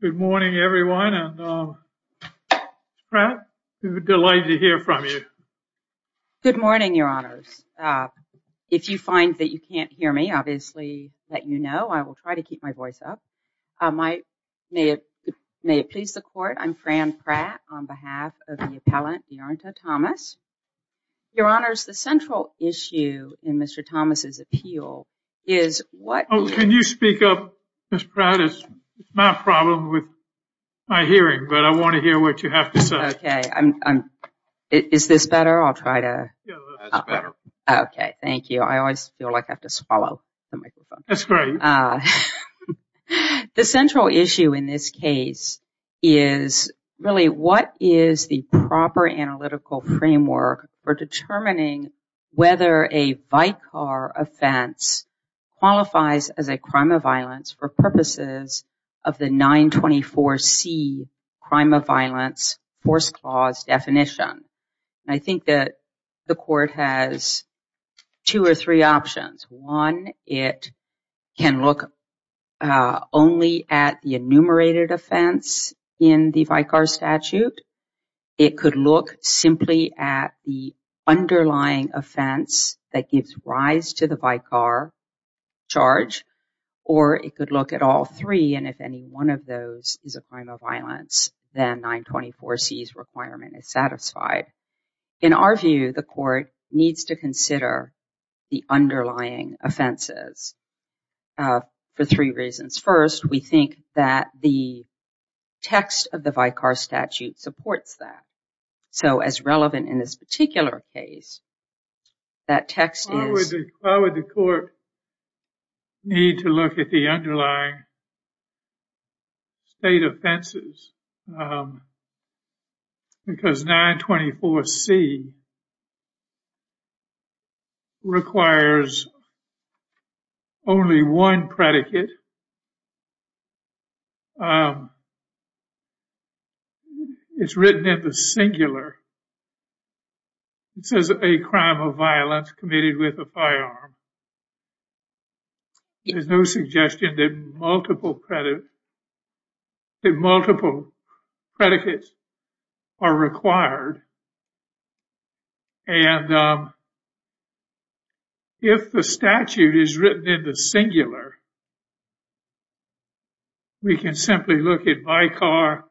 Good morning, everyone. I'm delighted to hear from you. Good morning, Your Honors. If you find that you can't hear me, obviously, let you know. I will try to keep my voice up. May it please the Court, I'm Fran Pratt on behalf of the appellant, Dearnta Thomas. Your Honors, the central issue in Mr. Thomas' appeal is what... Oh, can you speak up, Ms. Pratt? It's not a problem with my hearing, but I want to hear what you have to say. Okay. Is this better? I'll try to... Yeah, that's better. Okay, thank you. I always feel like I have to swallow the microphone. That's great. The central issue in this case is really what is the proper analytical framework for determining whether a VICAR offense qualifies as a crime of violence for purposes of the 924C crime of violence force clause definition. I think that the Court has two or three options. One, it can look only at the enumerated offense in the VICAR statute. It could look simply at the underlying offense that gives rise to the VICAR charge, or it could look at all three, and if any one of those is a crime of violence, then 924C's requirement is satisfied. In our view, the Court needs to consider the underlying offenses for three reasons. First, we think that the text of the VICAR statute supports that. So, as relevant in this particular case, that text is... It's written in the singular. It says a crime of violence committed with a firearm. There's no suggestion that multiple credits... that multiple predicates are required. And if the statute is written in the singular, we can simply look at VICAR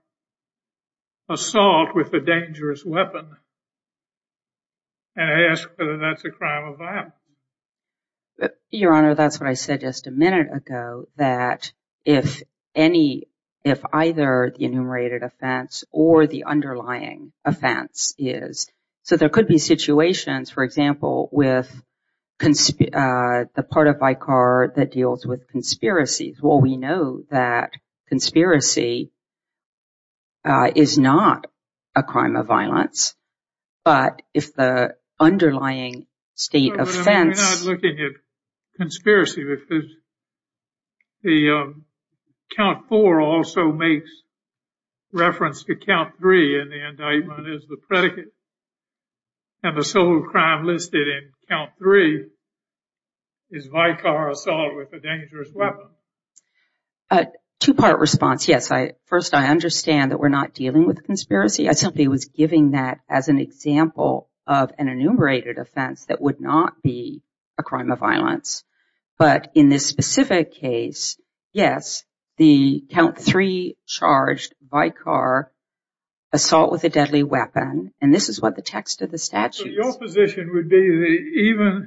assault with a dangerous weapon and ask whether that's a crime of violence. Your Honor, that's what I said just a minute ago, that if either the enumerated offense or the underlying offense is... So, there could be situations, for example, with the part of VICAR that deals with conspiracies. Well, we know that conspiracy is not a crime of violence, but if the underlying state offense... is VICAR assault with a dangerous weapon. A two-part response, yes. First, I understand that we're not dealing with a conspiracy. I simply was giving that as an example of an enumerated offense that would not be a crime of violence. But in this specific case, yes, the count three charged VICAR assault with a deadly weapon. And this is what the text of the statute... Even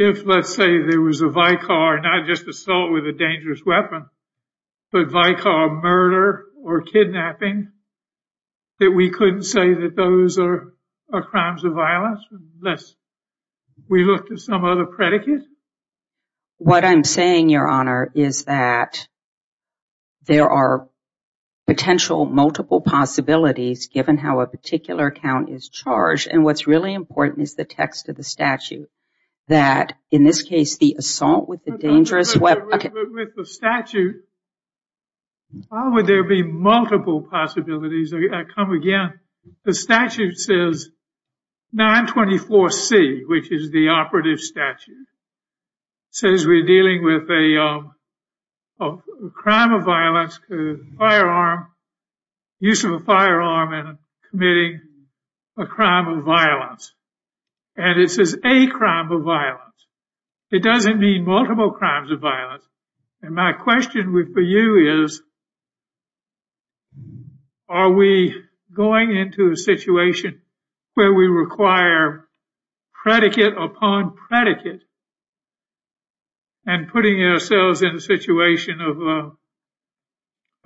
if, let's say, there was a VICAR, not just assault with a dangerous weapon, but VICAR murder or kidnapping, that we couldn't say that those are crimes of violence unless we looked at some other predicate? What I'm saying, Your Honor, is that there are potential multiple possibilities given how a particular count is charged. And what's really important is the text of the statute. That, in this case, the assault with a dangerous weapon... With the statute, how would there be multiple possibilities? I come again. The statute says 924C, which is the operative statute, says we're dealing with a crime of violence, a firearm, use of a firearm in committing a crime of violence. And it says a crime of violence. It doesn't mean multiple crimes of violence. And my question for you is, are we going into a situation where we require predicate upon predicate and putting ourselves in a situation of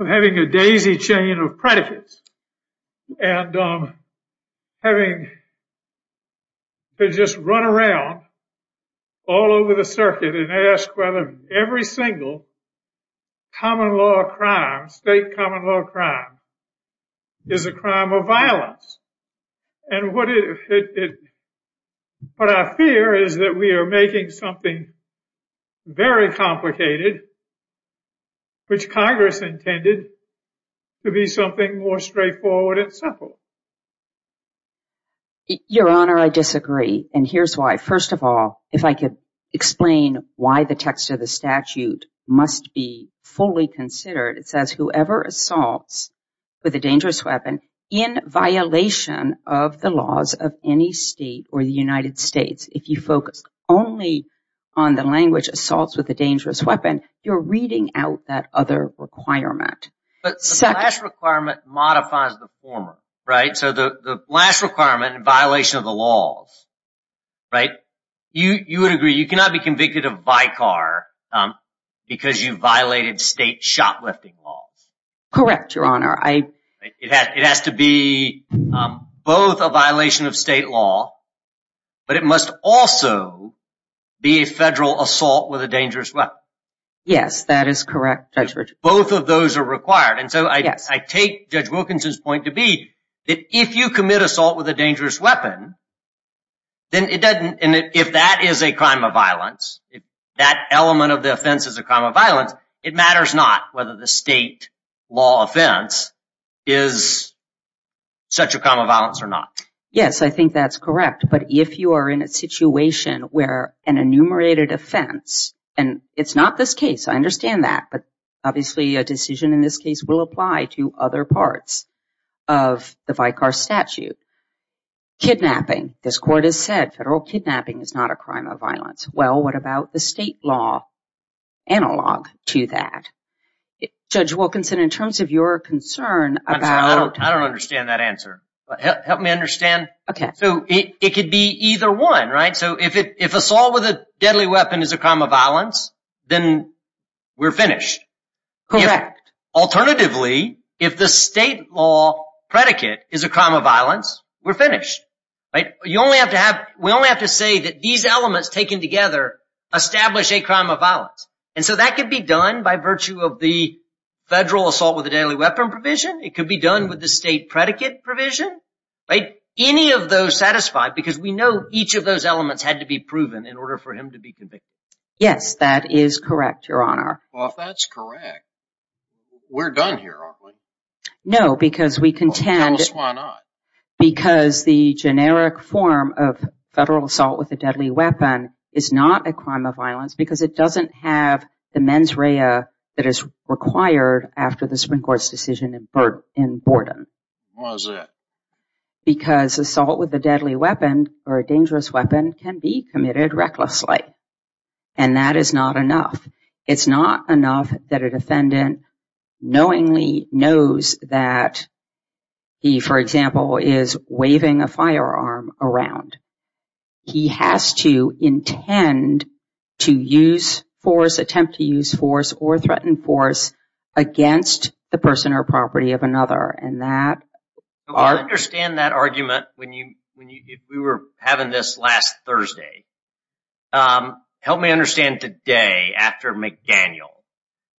having a daisy chain of predicates and having to just run around all over the circuit and ask whether every single common law crime, state common law crime, is a crime of violence? And what I fear is that we are making something very complicated, which Congress intended to be something more straightforward and simple. Your Honor, I disagree. And here's why. First of all, if I could explain why the text of the statute must be fully considered. It says whoever assaults with a dangerous weapon in violation of the laws of any state or the United States, if you focus only on the language assaults with a dangerous weapon, you're reading out that other requirement. But the last requirement modifies the former, right? So the last requirement in violation of the laws, right? You would agree you cannot be convicted of vicar because you violated state shot lifting laws. Correct, Your Honor. It has to be both a violation of state law, but it must also be a federal assault with a dangerous weapon. Yes, that is correct, Judge Richard. Both of those are required. And so I take Judge Wilkinson's point to be that if you commit assault with a dangerous weapon, then it doesn't, and if that is a crime of violence, if that element of the offense is a crime of violence, it matters not whether the state law offense is such a crime of violence or not. Yes, I think that's correct. But if you are in a situation where an enumerated offense, and it's not this case, I understand that, but obviously a decision in this case will apply to other parts of the vicar statute. Kidnapping. This court has said federal kidnapping is not a crime of violence. Well, what about the state law analog to that? Judge Wilkinson, in terms of your concern about— I don't understand that answer. Help me understand. Okay. So it could be either one, right? So if assault with a deadly weapon is a crime of violence, then we're finished. Correct. Alternatively, if the state law predicate is a crime of violence, we're finished. We only have to say that these elements taken together establish a crime of violence. And so that could be done by virtue of the federal assault with a deadly weapon provision. It could be done with the state predicate provision. Any of those satisfy? Because we know each of those elements had to be proven in order for him to be convicted. Yes, that is correct, Your Honor. Well, if that's correct, we're done here, aren't we? No, because we contend— Tell us why not. Because the generic form of federal assault with a deadly weapon is not a crime of violence because it doesn't have the mens rea that is required after the Supreme Court's decision in Borden. Why is that? Because assault with a deadly weapon or a dangerous weapon can be committed recklessly. And that is not enough. It's not enough that a defendant knowingly knows that he, for example, is waving a firearm around. He has to intend to use force, attempt to use force, or threaten force against the person or property of another. I understand that argument. If we were having this last Thursday, help me understand today after McDaniel.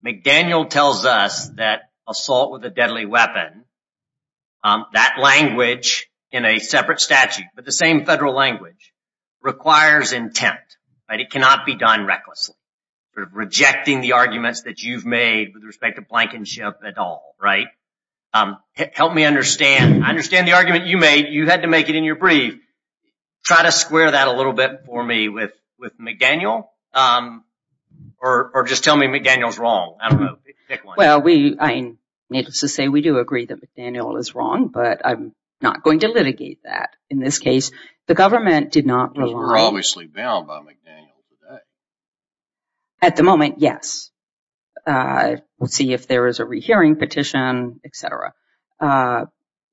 McDaniel tells us that assault with a deadly weapon, that language in a separate statute, but the same federal language, requires intent. It cannot be done recklessly. Rejecting the arguments that you've made with respect to blankenship at all. Help me understand. I understand the argument you made. You had to make it in your brief. Try to square that a little bit for me with McDaniel. Or just tell me McDaniel's wrong. Well, I need to say we do agree that McDaniel is wrong, but I'm not going to litigate that. In this case, the government did not rely— You're obviously bound by McDaniel today. At the moment, yes. We'll see if there is a rehearing petition, et cetera.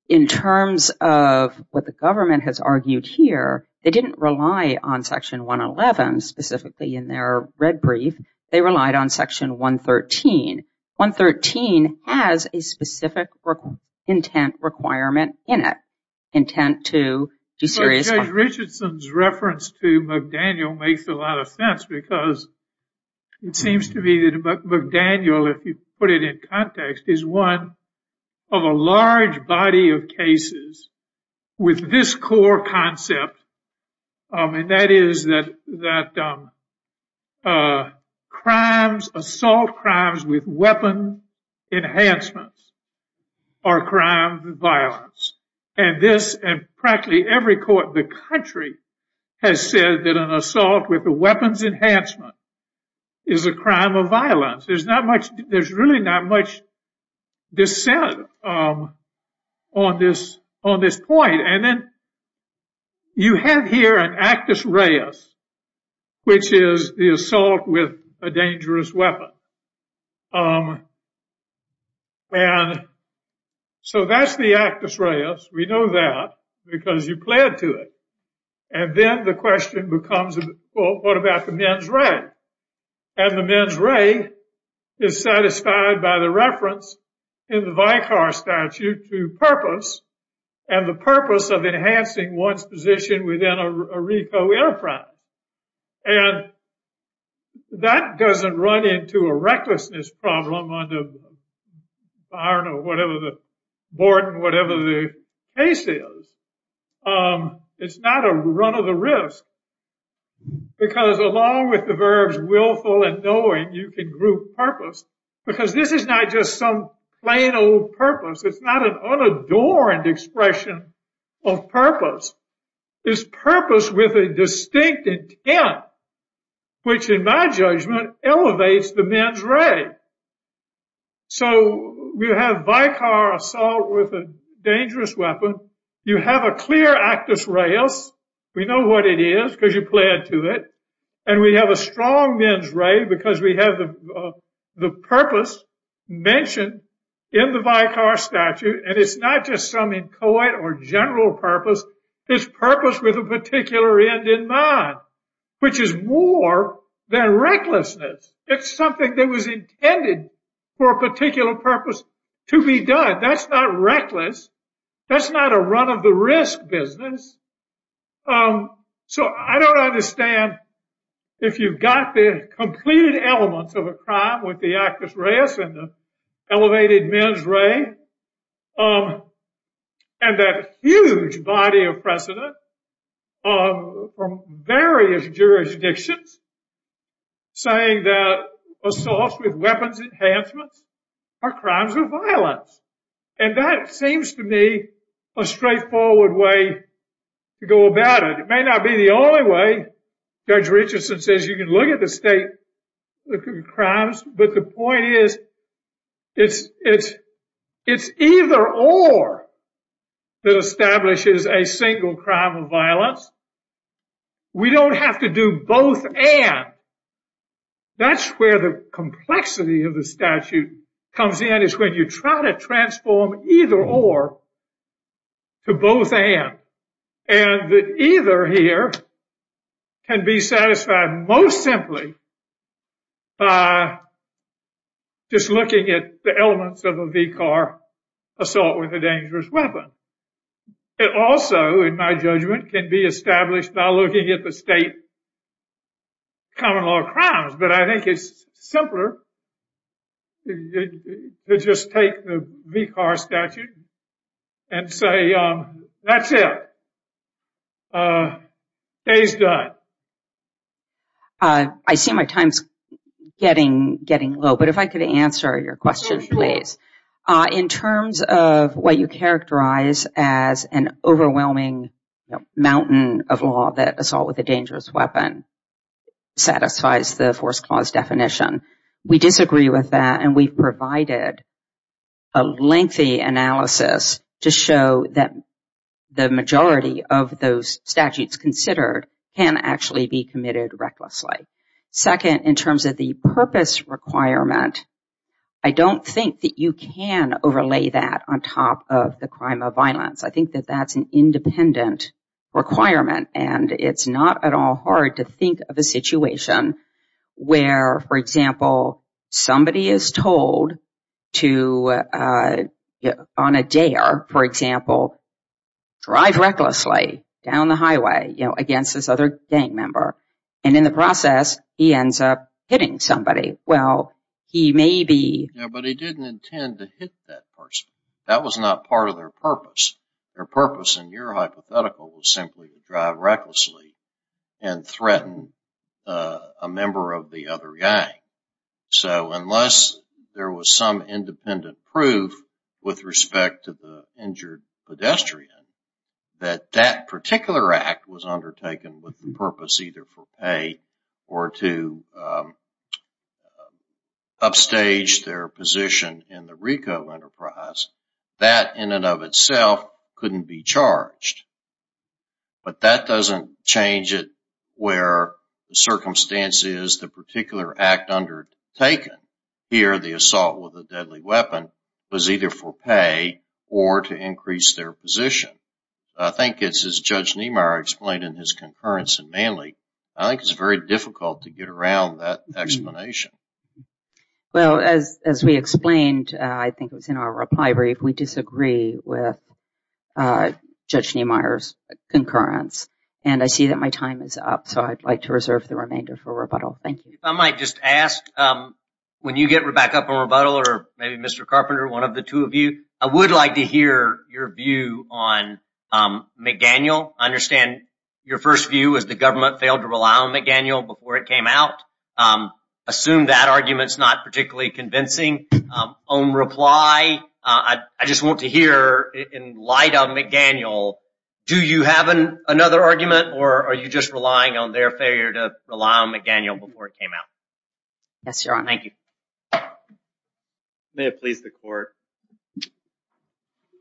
In terms of what the government has argued here, they didn't rely on Section 111 specifically in their red brief. They relied on Section 113. 113 has a specific intent requirement in it, intent to do serious harm. Judge Richardson's reference to McDaniel makes a lot of sense, because it seems to me that McDaniel, if you put it in context, is one of a large body of cases with this core concept, and that is that assault crimes with weapon enhancements are crimes of violence. Practically every court in the country has said that an assault with a weapons enhancement is a crime of violence. There's really not much dissent on this point. And then you have here an actus reus, which is the assault with a dangerous weapon. And so that's the actus reus. We know that because you pled to it. And then the question becomes, well, what about the mens rea? And the mens rea is satisfied by the reference in the Vicar Statute to purpose, and the purpose of enhancing one's position within a RICO airframe. And that doesn't run into a recklessness problem under, I don't know, whatever the board, whatever the case is. It's not a run of the risk, because along with the verbs willful and knowing, you can group purpose, because this is not just some plain old purpose. It's not an unadorned expression of purpose. It's purpose with a distinct intent, which in my judgment, elevates the mens rea. So we have Vicar assault with a dangerous weapon. You have a clear actus reus. We know what it is because you pled to it. And we have a strong mens rea because we have the purpose mentioned in the Vicar Statute, and it's not just some inchoate or general purpose. It's purpose with a particular end in mind, which is more than recklessness. It's something that was intended for a particular purpose to be done. That's not reckless. That's not a run of the risk business. So I don't understand if you've got the completed elements of a crime with the actus reus and the elevated mens rea and that huge body of precedent from various jurisdictions saying that assaults with weapons enhancements are crimes of violence. And that seems to me a straightforward way to go about it. It may not be the only way. Judge Richardson says you can look at the state crimes. But the point is it's either or that establishes a single crime of violence. We don't have to do both and. That's where the complexity of the statute comes in is when you try to transform either or to both and. Either here can be satisfied most simply by just looking at the elements of a Vicar assault with a dangerous weapon. It also, in my judgment, can be established by looking at the state common law crimes. But I think it's simpler to just take the Vicar statute and say that's it. Day's done. I see my time's getting low. But if I could answer your question, please. In terms of what you characterize as an overwhelming mountain of law, that assault with a dangerous weapon satisfies the force clause definition. We disagree with that and we've provided a lengthy analysis to show that the majority of those statutes considered can actually be committed recklessly. Second, in terms of the purpose requirement, I don't think that you can overlay that on top of the crime of violence. I think that that's an independent requirement. And it's not at all hard to think of a situation where, for example, somebody is told to, on a dare, for example, drive recklessly down the highway against this other gang member. And in the process, he ends up hitting somebody. Well, he may be. But he didn't intend to hit that person. That was not part of their purpose. Their purpose, in your hypothetical, was simply to drive recklessly and threaten a member of the other gang. So unless there was some independent proof with respect to the injured pedestrian, that that particular act was undertaken with the purpose either for pay or to upstage their position in the RICO enterprise, that, in and of itself, couldn't be charged. But that doesn't change it where the circumstances the particular act undertaken, here, the assault with a deadly weapon, was either for pay or to increase their position. I think, as Judge Niemeyer explained in his concurrence in Manly, I think it's very difficult to get around that explanation. Well, as we explained, I think it was in our reply brief, we disagree with Judge Niemeyer's concurrence. And I see that my time is up, so I'd like to reserve the remainder for rebuttal. Thank you. If I might just ask, when you get back up for rebuttal, or maybe Mr. Carpenter, one of the two of you, I would like to hear your view on McDaniel. I understand your first view is the government failed to rely on McDaniel before it came out. I assume that argument is not particularly convincing. On reply, I just want to hear, in light of McDaniel, do you have another argument, or are you just relying on their failure to rely on McDaniel before it came out? Yes, Your Honor. Thank you. May it please the Court.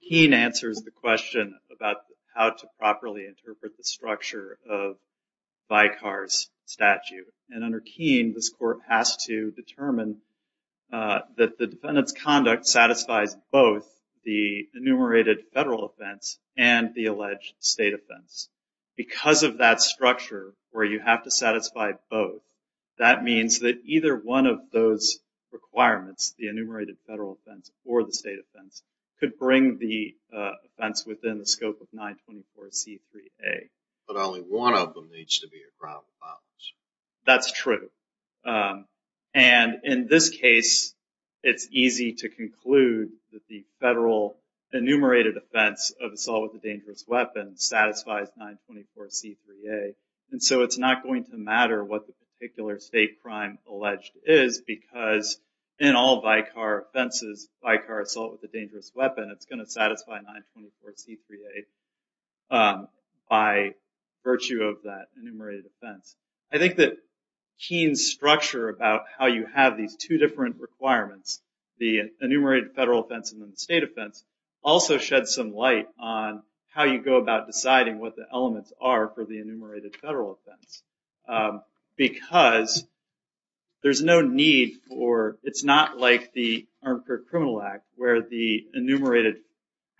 Keene answers the question about how to properly interpret the structure of Vicar's statute. And under Keene, this Court has to determine that the defendant's conduct satisfies both the enumerated federal offense and the alleged state offense. Because of that structure, where you have to satisfy both, that means that either one of those requirements, the enumerated federal offense or the state offense, could bring the offense within the scope of 924C3A. But only one of them needs to be a problem. That's true. And in this case, it's easy to conclude that the federal enumerated offense of assault with a dangerous weapon satisfies 924C3A. And so it's not going to matter what the particular state crime alleged is because in all Vicar offenses, Vicar assault with a dangerous weapon, it's going to satisfy 924C3A by virtue of that enumerated offense. I think that Keene's structure about how you have these two different requirements, the enumerated federal offense and the state offense, also sheds some light on how you go about deciding what the elements are for the enumerated federal offense. Because there's no need for – it's not like the Armed Criminal Act, where the enumerated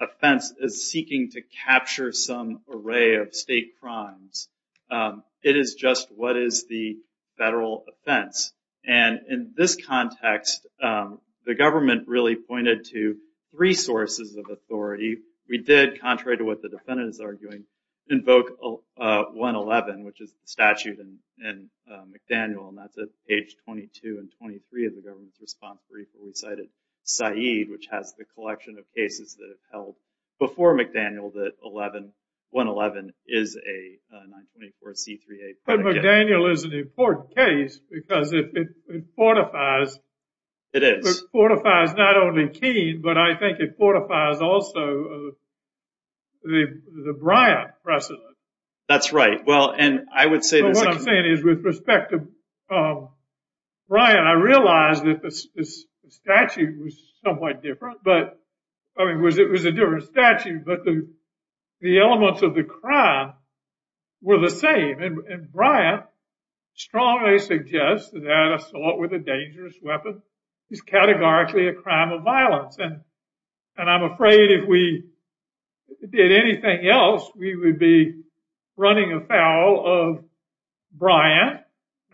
offense is seeking to capture some array of state crimes. It is just what is the federal offense. And in this context, the government really pointed to three sources of authority. We did, contrary to what the defendant is arguing, invoke 111, which is the statute in McDaniel, and that's at page 22 and 23 of the government's response brief where we cited Said, which has the collection of cases that have held before McDaniel that 111 is a 924C3A. But McDaniel is an important case because it fortifies – It is. It fortifies not only Keene, but I think it fortifies also the Bryant precedent. That's right. What I'm saying is, with respect to Bryant, I realize that the statute was somewhat different. It was a different statute, but the elements of the crime were the same. And Bryant strongly suggests that an assault with a dangerous weapon is categorically a crime of violence. And I'm afraid if we did anything else, we would be running afoul of Bryant,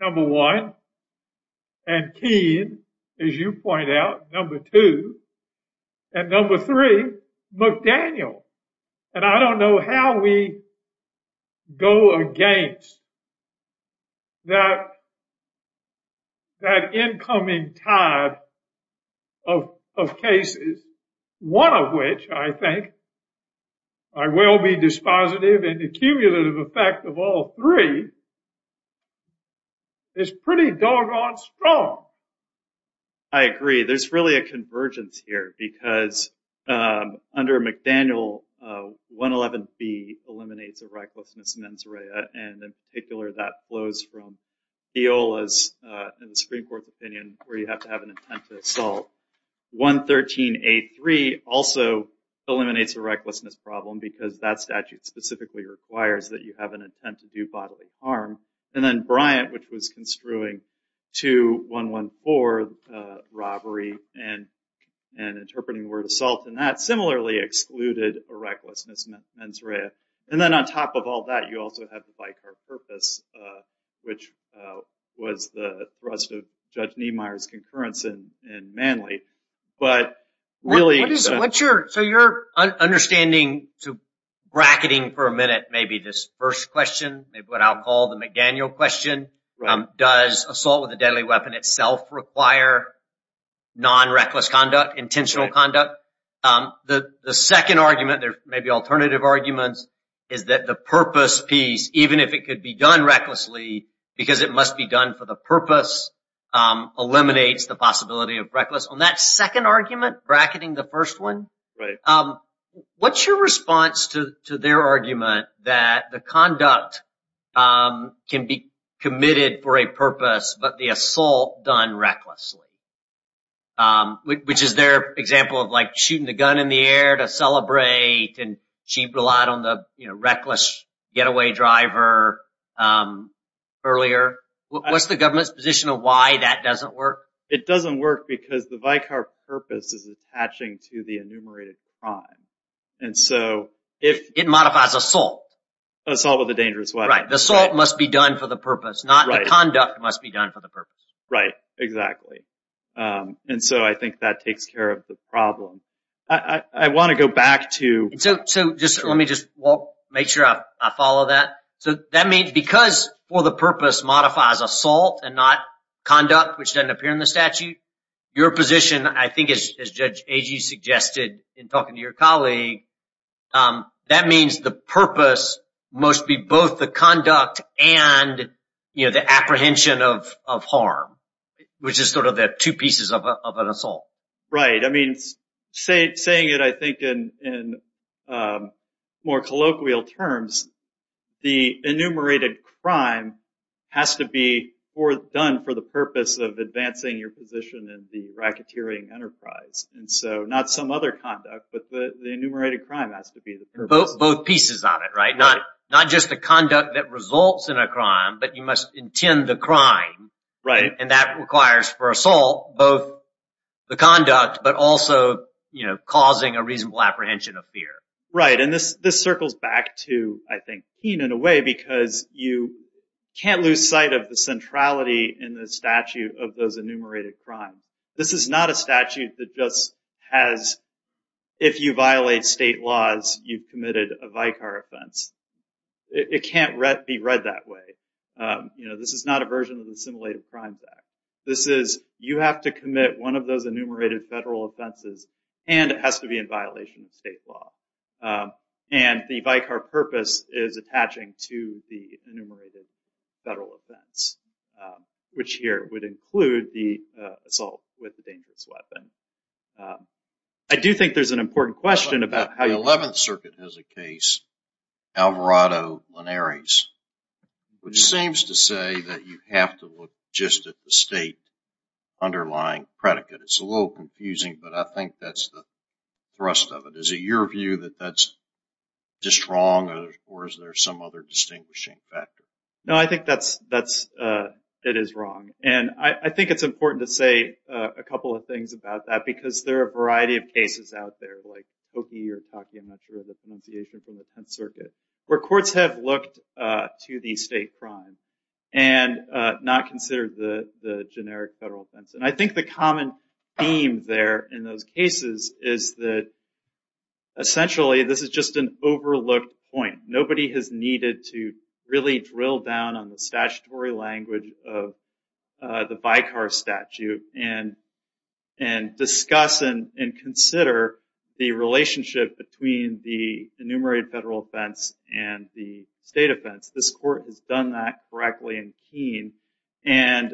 number one, and Keene, as you point out, number two, and number three, McDaniel. And I don't know how we go against that incoming tide of cases, one of which, I think, by well-being dispositive and accumulative effect of all three, is pretty doggone strong. I agree. There's really a convergence here because under McDaniel, 111B eliminates a recklessness mens rea, and in particular that flows from EOLA's Supreme Court's opinion where you have to have an intent to assault. 113A3 also eliminates a recklessness problem because that statute specifically requires that you have an intent to do bodily harm. And then Bryant, which was construing 2114, robbery, and interpreting the word assault in that, similarly excluded a recklessness mens rea. And then on top of all that, you also have the vicar purpose, which was the thrust of Judge Niemeyer's concurrence in Manley. So your understanding, bracketing for a minute, maybe this first question, maybe what I'll call the McDaniel question, does assault with a deadly weapon itself require non-reckless conduct, intentional conduct? The second argument, there may be alternative arguments, is that the purpose piece, even if it could be done recklessly because it must be done for the purpose, eliminates the possibility of reckless. On that second argument, bracketing the first one, what's your response to their argument that the conduct can be committed for a purpose, but the assault done recklessly, which is their example of like shooting the gun in the air to celebrate, and she relied on the reckless getaway driver earlier. What's the government's position of why that doesn't work? It doesn't work because the vicar purpose is attaching to the enumerated crime. It modifies assault. Assault with a dangerous weapon. The assault must be done for the purpose, not the conduct must be done for the purpose. Right, exactly. And so I think that takes care of the problem. I want to go back to – So let me just make sure I follow that. So that means because for the purpose modifies assault and not conduct, which doesn't appear in the statute, your position, I think, as Judge Agee suggested in talking to your colleague, that means the purpose must be both the conduct and the apprehension of harm, which is sort of the two pieces of an assault. Right. I mean, saying it, I think, in more colloquial terms, the enumerated crime has to be done for the purpose of advancing your position in the racketeering enterprise. And so not some other conduct, but the enumerated crime has to be the purpose. Both pieces on it, right? Not just the conduct that results in a crime, but you must intend the crime, and that requires for assault both the conduct, but also causing a reasonable apprehension of fear. Right. And this circles back to, I think, Keane in a way, because you can't lose sight of the centrality in the statute of those enumerated crimes. This is not a statute that just has, if you violate state laws, you've committed a vicar offense. It can't be read that way. You know, this is not a version of the Assimilated Crimes Act. This is, you have to commit one of those enumerated federal offenses, and it has to be in violation of state law. And the vicar purpose is attaching to the enumerated federal offense, which here would include the assault with a dangerous weapon. I do think there's an important question about how you- Alvarado Linares, which seems to say that you have to look just at the state underlying predicate. It's a little confusing, but I think that's the thrust of it. Is it your view that that's just wrong, or is there some other distinguishing factor? No, I think that's, it is wrong. And I think it's important to say a couple of things about that, because there are a variety of cases out there, I'm not sure of the pronunciation from the Penn Circuit, where courts have looked to the state crime and not considered the generic federal offense. And I think the common theme there in those cases is that, essentially, this is just an overlooked point. Nobody has needed to really drill down on the statutory language of the vicar statute and discuss and consider the relationship between the enumerated federal offense and the state offense. This court has done that correctly in Keene. And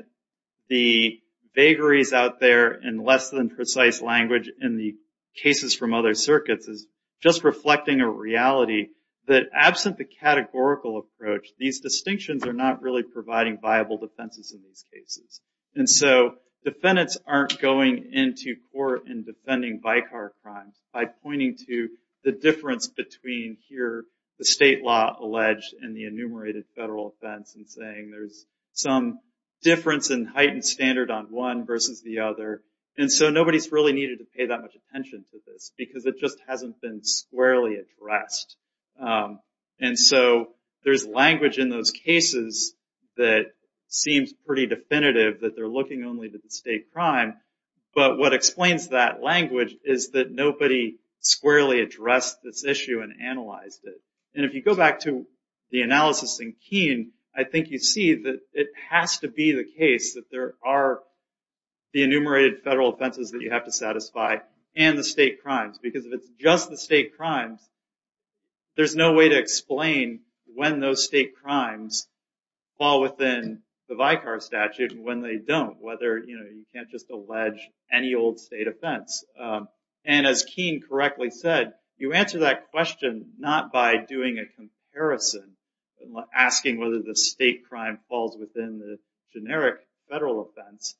the vagaries out there in less-than-precise language in the cases from other circuits is just reflecting a reality that, absent the categorical approach, these distinctions are not really providing viable defenses in these cases. And so, defendants aren't going into court and defending vicar crime by pointing to the difference between, here, the state law alleged and the enumerated federal offense and saying there's some difference in heightened standard on one versus the other. And so, nobody's really needed to pay that much attention to this, because it just hasn't been squarely addressed. And so, there's language in those cases that seems pretty definitive, that they're looking only to the state crime. But what explains that language is that nobody squarely addressed this issue and analyzed it. And if you go back to the analysis in Keene, I think you see that it has to be the case that there are the enumerated federal offenses that you have to satisfy and the state crimes. Because if it's just the state crimes, there's no way to explain when those state crimes fall within the vicar statute and when they don't, whether, you know, you can't just allege any old state offense. And as Keene correctly said, you answer that question not by doing a comparison, asking whether the state crime falls within the generic federal offense.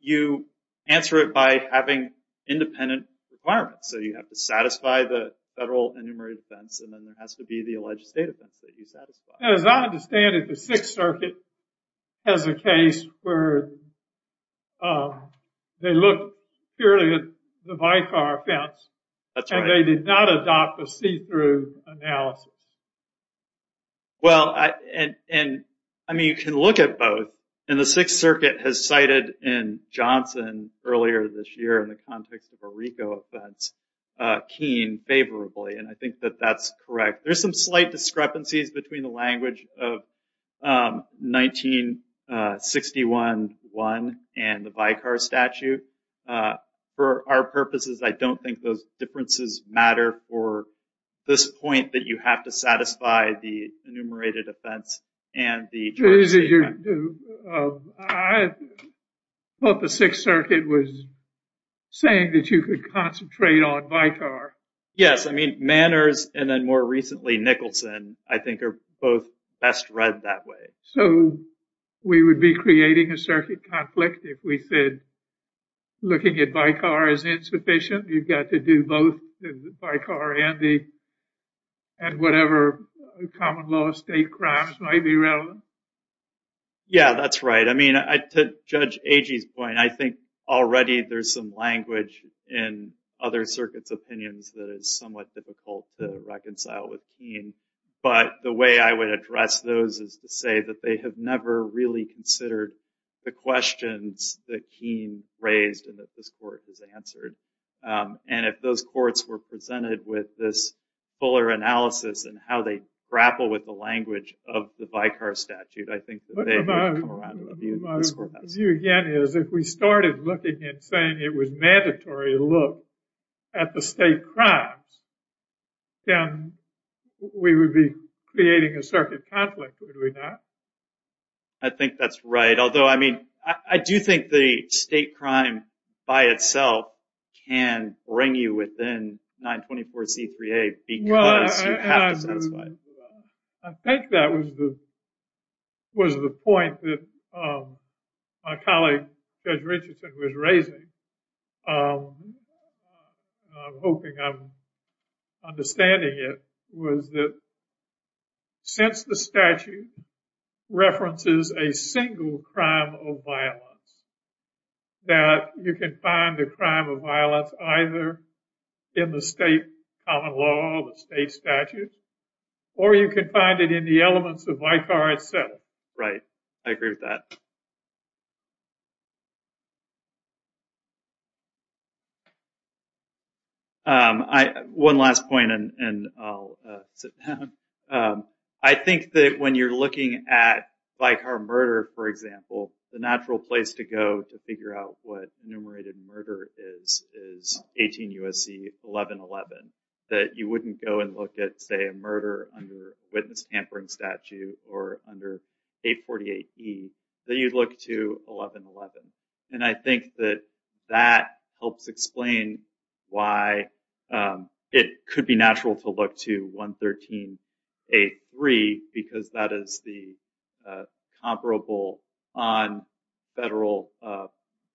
You answer it by having independent requirements. So, you have to satisfy the federal enumerated offense, and then there has to be the alleged state offense that you satisfy. As I understand it, the Sixth Circuit has a case where they look purely at the vicar offense. That's right. And they did not adopt a see-through analysis. Well, I mean, you can look at both, and the Sixth Circuit has cited in Johnson earlier this year in the context of a RICO offense, Keene favorably, and I think that that's correct. There's some slight discrepancies between the language of 1961-1 and the vicar statute. For our purposes, I don't think those differences matter for this point that you have to satisfy the enumerated offense. I thought the Sixth Circuit was saying that you could concentrate on vicar. Yes, I mean, Manners and then more recently Nicholson, I think, are both best read that way. So, we would be creating a circuit conflict if we said looking at vicar is insufficient. You've got to do both vicar and whatever common law state crimes might be relevant. Yeah, that's right. I mean, to Judge Agee's point, I think already there's some language in other circuits' opinions that is somewhat difficult to reconcile with Keene. But the way I would address those is to say that they have never really considered the questions that Keene raised and that this court has answered. And if those courts were presented with this fuller analysis and how they grapple with the language of the vicar statute, I think that they would come around to review this court. My view again is if we started looking and saying it was mandatory to look at the state crimes, then we would be creating a circuit conflict, would we not? I think that's right. Although, I mean, I do think the state crime by itself can bring you within 924C3A because you have to satisfy it. I think that was the point that my colleague Judge Richardson was raising. I'm hoping I'm understanding it, was that since the statute references a single crime of violence, that you can find the crime of violence either in the state common law, the state statute, or you can find it in the elements of vicar itself. Right. I agree with that. One last point and I'll sit down. I think that when you're looking at vicar murder, for example, the natural place to go to figure out what enumerated murder is, is 18 U.S.C. 1111. That you wouldn't go and look at, say, a murder under witness tampering statute or under 848E. That you'd look to 1111. And I think that that helps explain why it could be natural to look to 113A3 because that is the comparable on federal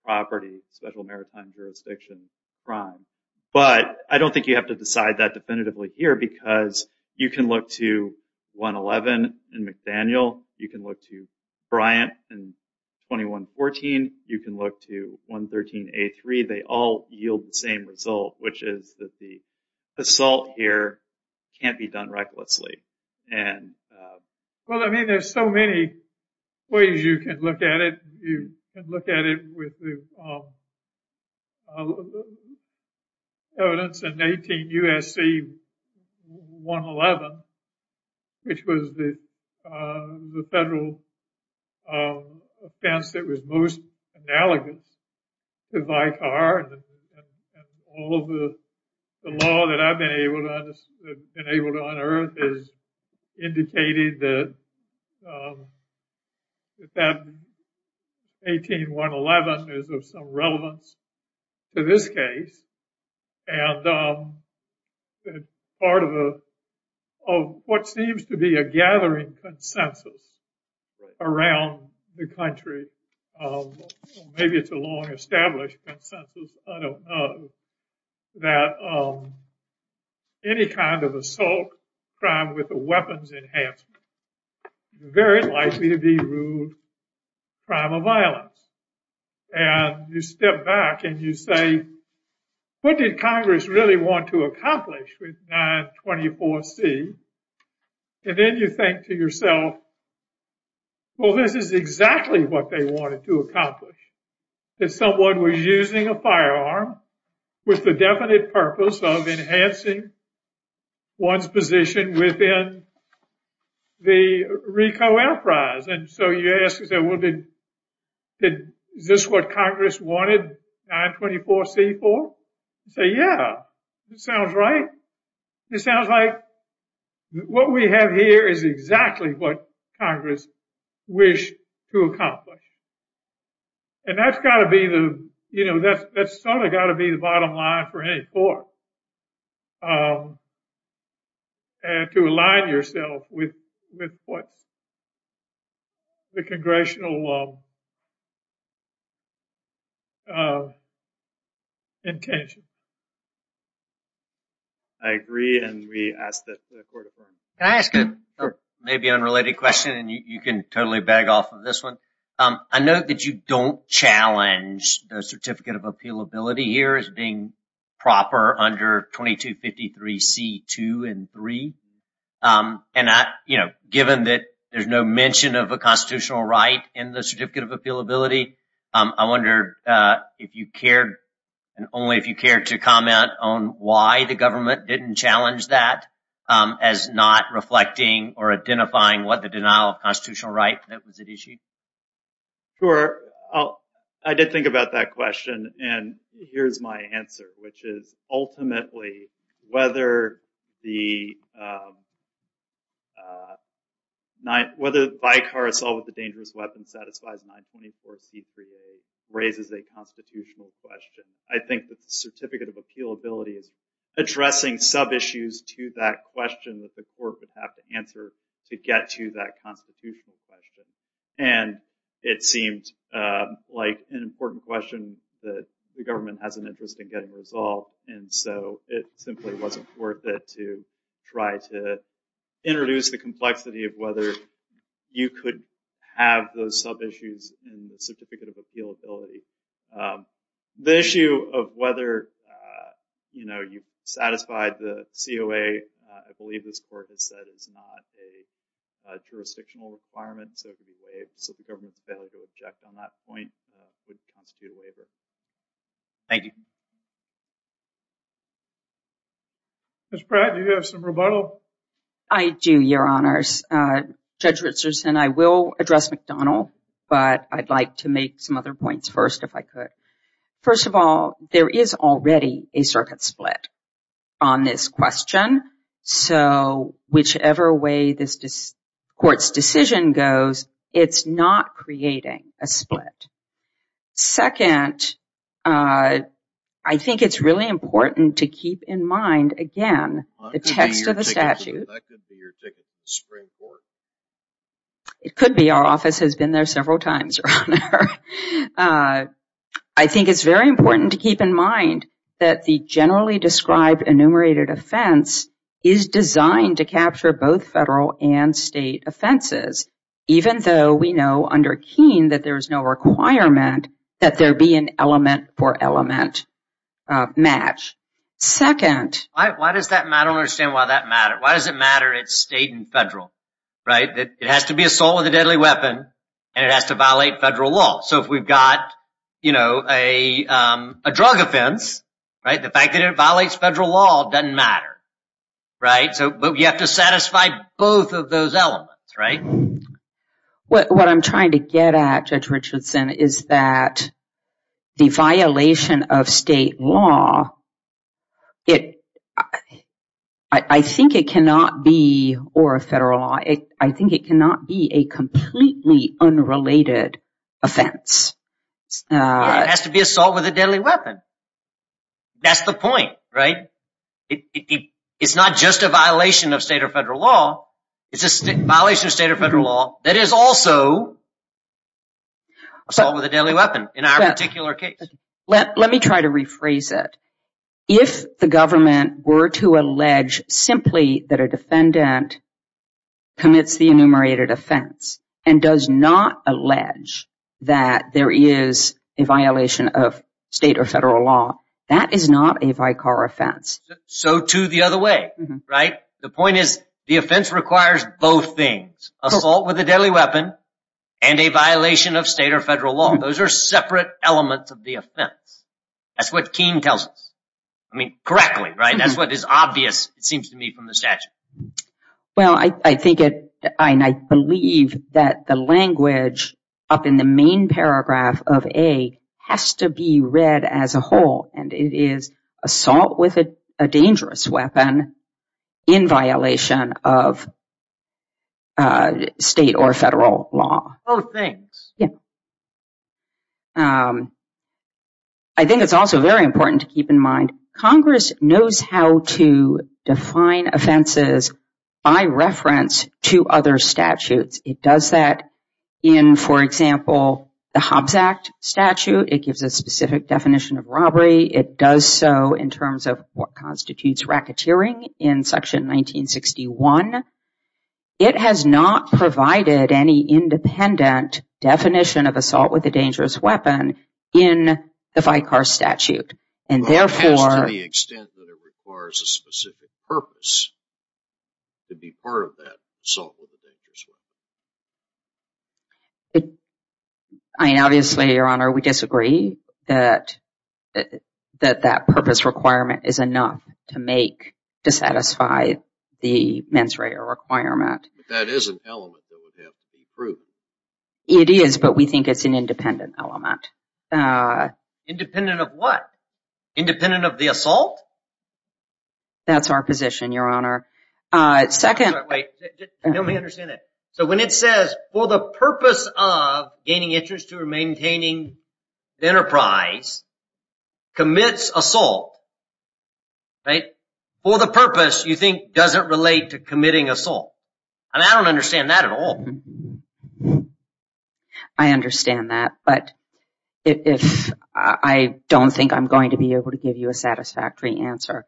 property, special maritime jurisdiction crime. But I don't think you have to decide that definitively here because you can look to 111 in McDaniel. You can look to Bryant in 2114. You can look to 113A3. They all yield the same result, which is that the assault here can't be done recklessly. Well, I mean, there's so many ways you can look at it. You can look at it with the evidence in 18 U.S.C. 111, which was the federal offense that was most analogous to vicar. All of the law that I've been able to unearth has indicated that 18 U.S.C. 111 is of some relevance to this case. And part of what seems to be a gathering consensus around the country, maybe it's a long established consensus, I don't know, that any kind of assault crime with a weapons enhancement is very likely to be ruled a crime of violence. And you step back and you say, what did Congress really want to accomplish with 924C? And then you think to yourself, well, this is exactly what they wanted to accomplish. That someone was using a firearm with the definite purpose of enhancing one's position within the Rico Air Prize. And so you ask, is this what Congress wanted 924C for? So, yeah, it sounds right. It sounds like what we have here is exactly what Congress wished to accomplish. And that's got to be the, you know, that's sort of got to be the bottom line for any court. And to align yourself with what the congressional intention. I agree, and we ask that the court affirms. Can I ask a maybe unrelated question and you can totally beg off of this one? I know that you don't challenge the Certificate of Appeal Ability here as being proper under 2253C2 and 3. And, you know, given that there's no mention of a constitutional right in the Certificate of Appeal Ability, I wonder if you cared and only if you cared to comment on why the government didn't challenge that as not reflecting or identifying what the denial of constitutional right that was at issue? Sure. I did think about that question. And here's my answer, which is ultimately whether the by-car assault with a dangerous weapon satisfies 924C3A raises a constitutional question. I think that the Certificate of Appeal Ability is addressing sub-issues to that question that the court would have to answer to get to that constitutional question. And it seemed like an important question that the government has an interest in getting resolved. And so it simply wasn't worth it to try to introduce the complexity of whether you could have those sub-issues in the Certificate of Appeal Ability. The issue of whether, you know, you've satisfied the COA, I believe this court has said is not a jurisdictional requirement. So the government's failure to object on that point wouldn't constitute a waiver. Thank you. Judge Pratt, do you have some rebuttal? I do, Your Honors. Judge Richardson, I will address McDonnell, but I'd like to make some other points first if I could. First of all, there is already a circuit split on this question. So whichever way this court's decision goes, it's not creating a split. Second, I think it's really important to keep in mind, again, the text of the statute. That could be your ticket to the Supreme Court. It could be. Our office has been there several times, Your Honor. I think it's very important to keep in mind that the generally described enumerated offense is designed to capture both federal and state offenses, even though we know under Keene that there is no requirement that there be an element for element match. Second. Why does that matter? I don't understand why that matters. Why does it matter it's state and federal, right? It has to be assault with a deadly weapon, and it has to violate federal law. So if we've got a drug offense, the fact that it violates federal law doesn't matter, right? But we have to satisfy both of those elements, right? What I'm trying to get at, Judge Richardson, is that the violation of state law, I think it cannot be, or a federal law, I think it cannot be a completely unrelated offense. It has to be assault with a deadly weapon. That's the point, right? It's not just a violation of state or federal law. It's a violation of state or federal law that is also assault with a deadly weapon in our particular case. Let me try to rephrase it. If the government were to allege simply that a defendant commits the enumerated offense and does not allege that there is a violation of state or federal law, that is not a vicar offense. So too the other way, right? The point is the offense requires both things. Assault with a deadly weapon and a violation of state or federal law. Those are separate elements of the offense. That's what Keene tells us. I mean, correctly, right? That's what is obvious, it seems to me, from the statute. Well, I think it, and I believe that the language up in the main paragraph of A has to be read as a whole, and it is assault with a dangerous weapon in violation of state or federal law. Both things. Yeah. I think it's also very important to keep in mind Congress knows how to define offenses by reference to other statutes. It does that in, for example, the Hobbs Act statute. It gives a specific definition of robbery. It does so in terms of what constitutes racketeering in Section 1961. It has not provided any independent definition of assault with a dangerous weapon in the vicar statute, and therefore- Well, it has to the extent that it requires a specific purpose to be part of that assault with a dangerous weapon. I mean, obviously, Your Honor, we disagree that that purpose requirement is enough to make, to satisfy the mens rea requirement. That is an element that would have to be approved. It is, but we think it's an independent element. Independent of what? Independent of the assault? That's our position, Your Honor. Wait, let me understand that. So when it says, for the purpose of gaining interest or maintaining enterprise, commits assault, right? For the purpose, you think doesn't relate to committing assault. And I don't understand that at all. I understand that, but I don't think I'm going to be able to give you a satisfactory answer.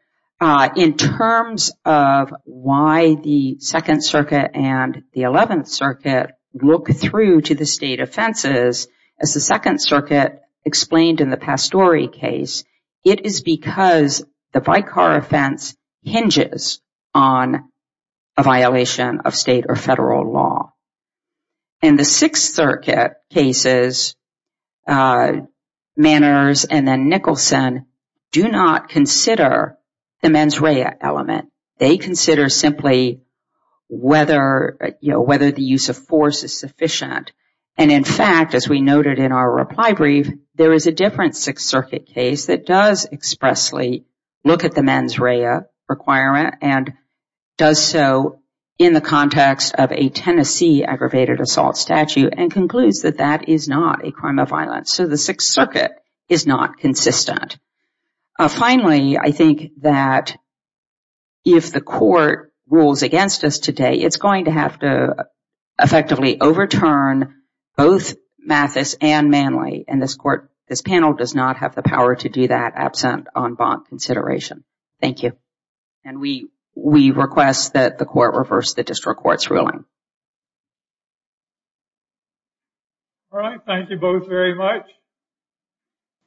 In terms of why the Second Circuit and the Eleventh Circuit look through to the state offenses, as the Second Circuit explained in the Pastore case, it is because the vicar offense hinges on a violation of state or federal law. And the Sixth Circuit cases, Manners and then Nicholson, do not consider the mens rea element. They consider simply whether, you know, whether the use of force is sufficient. And in fact, as we noted in our reply brief, there is a different Sixth Circuit case that does expressly look at the mens rea requirement and does so in the context of a Tennessee aggravated assault statute and concludes that that is not a crime of violence. So the Sixth Circuit is not consistent. Finally, I think that if the court rules against us today, it's going to have to effectively overturn both Mathis and Manley. And this panel does not have the power to do that absent en banc consideration. Thank you. And we request that the court reverse the district court's ruling. All right. Thank you both very much.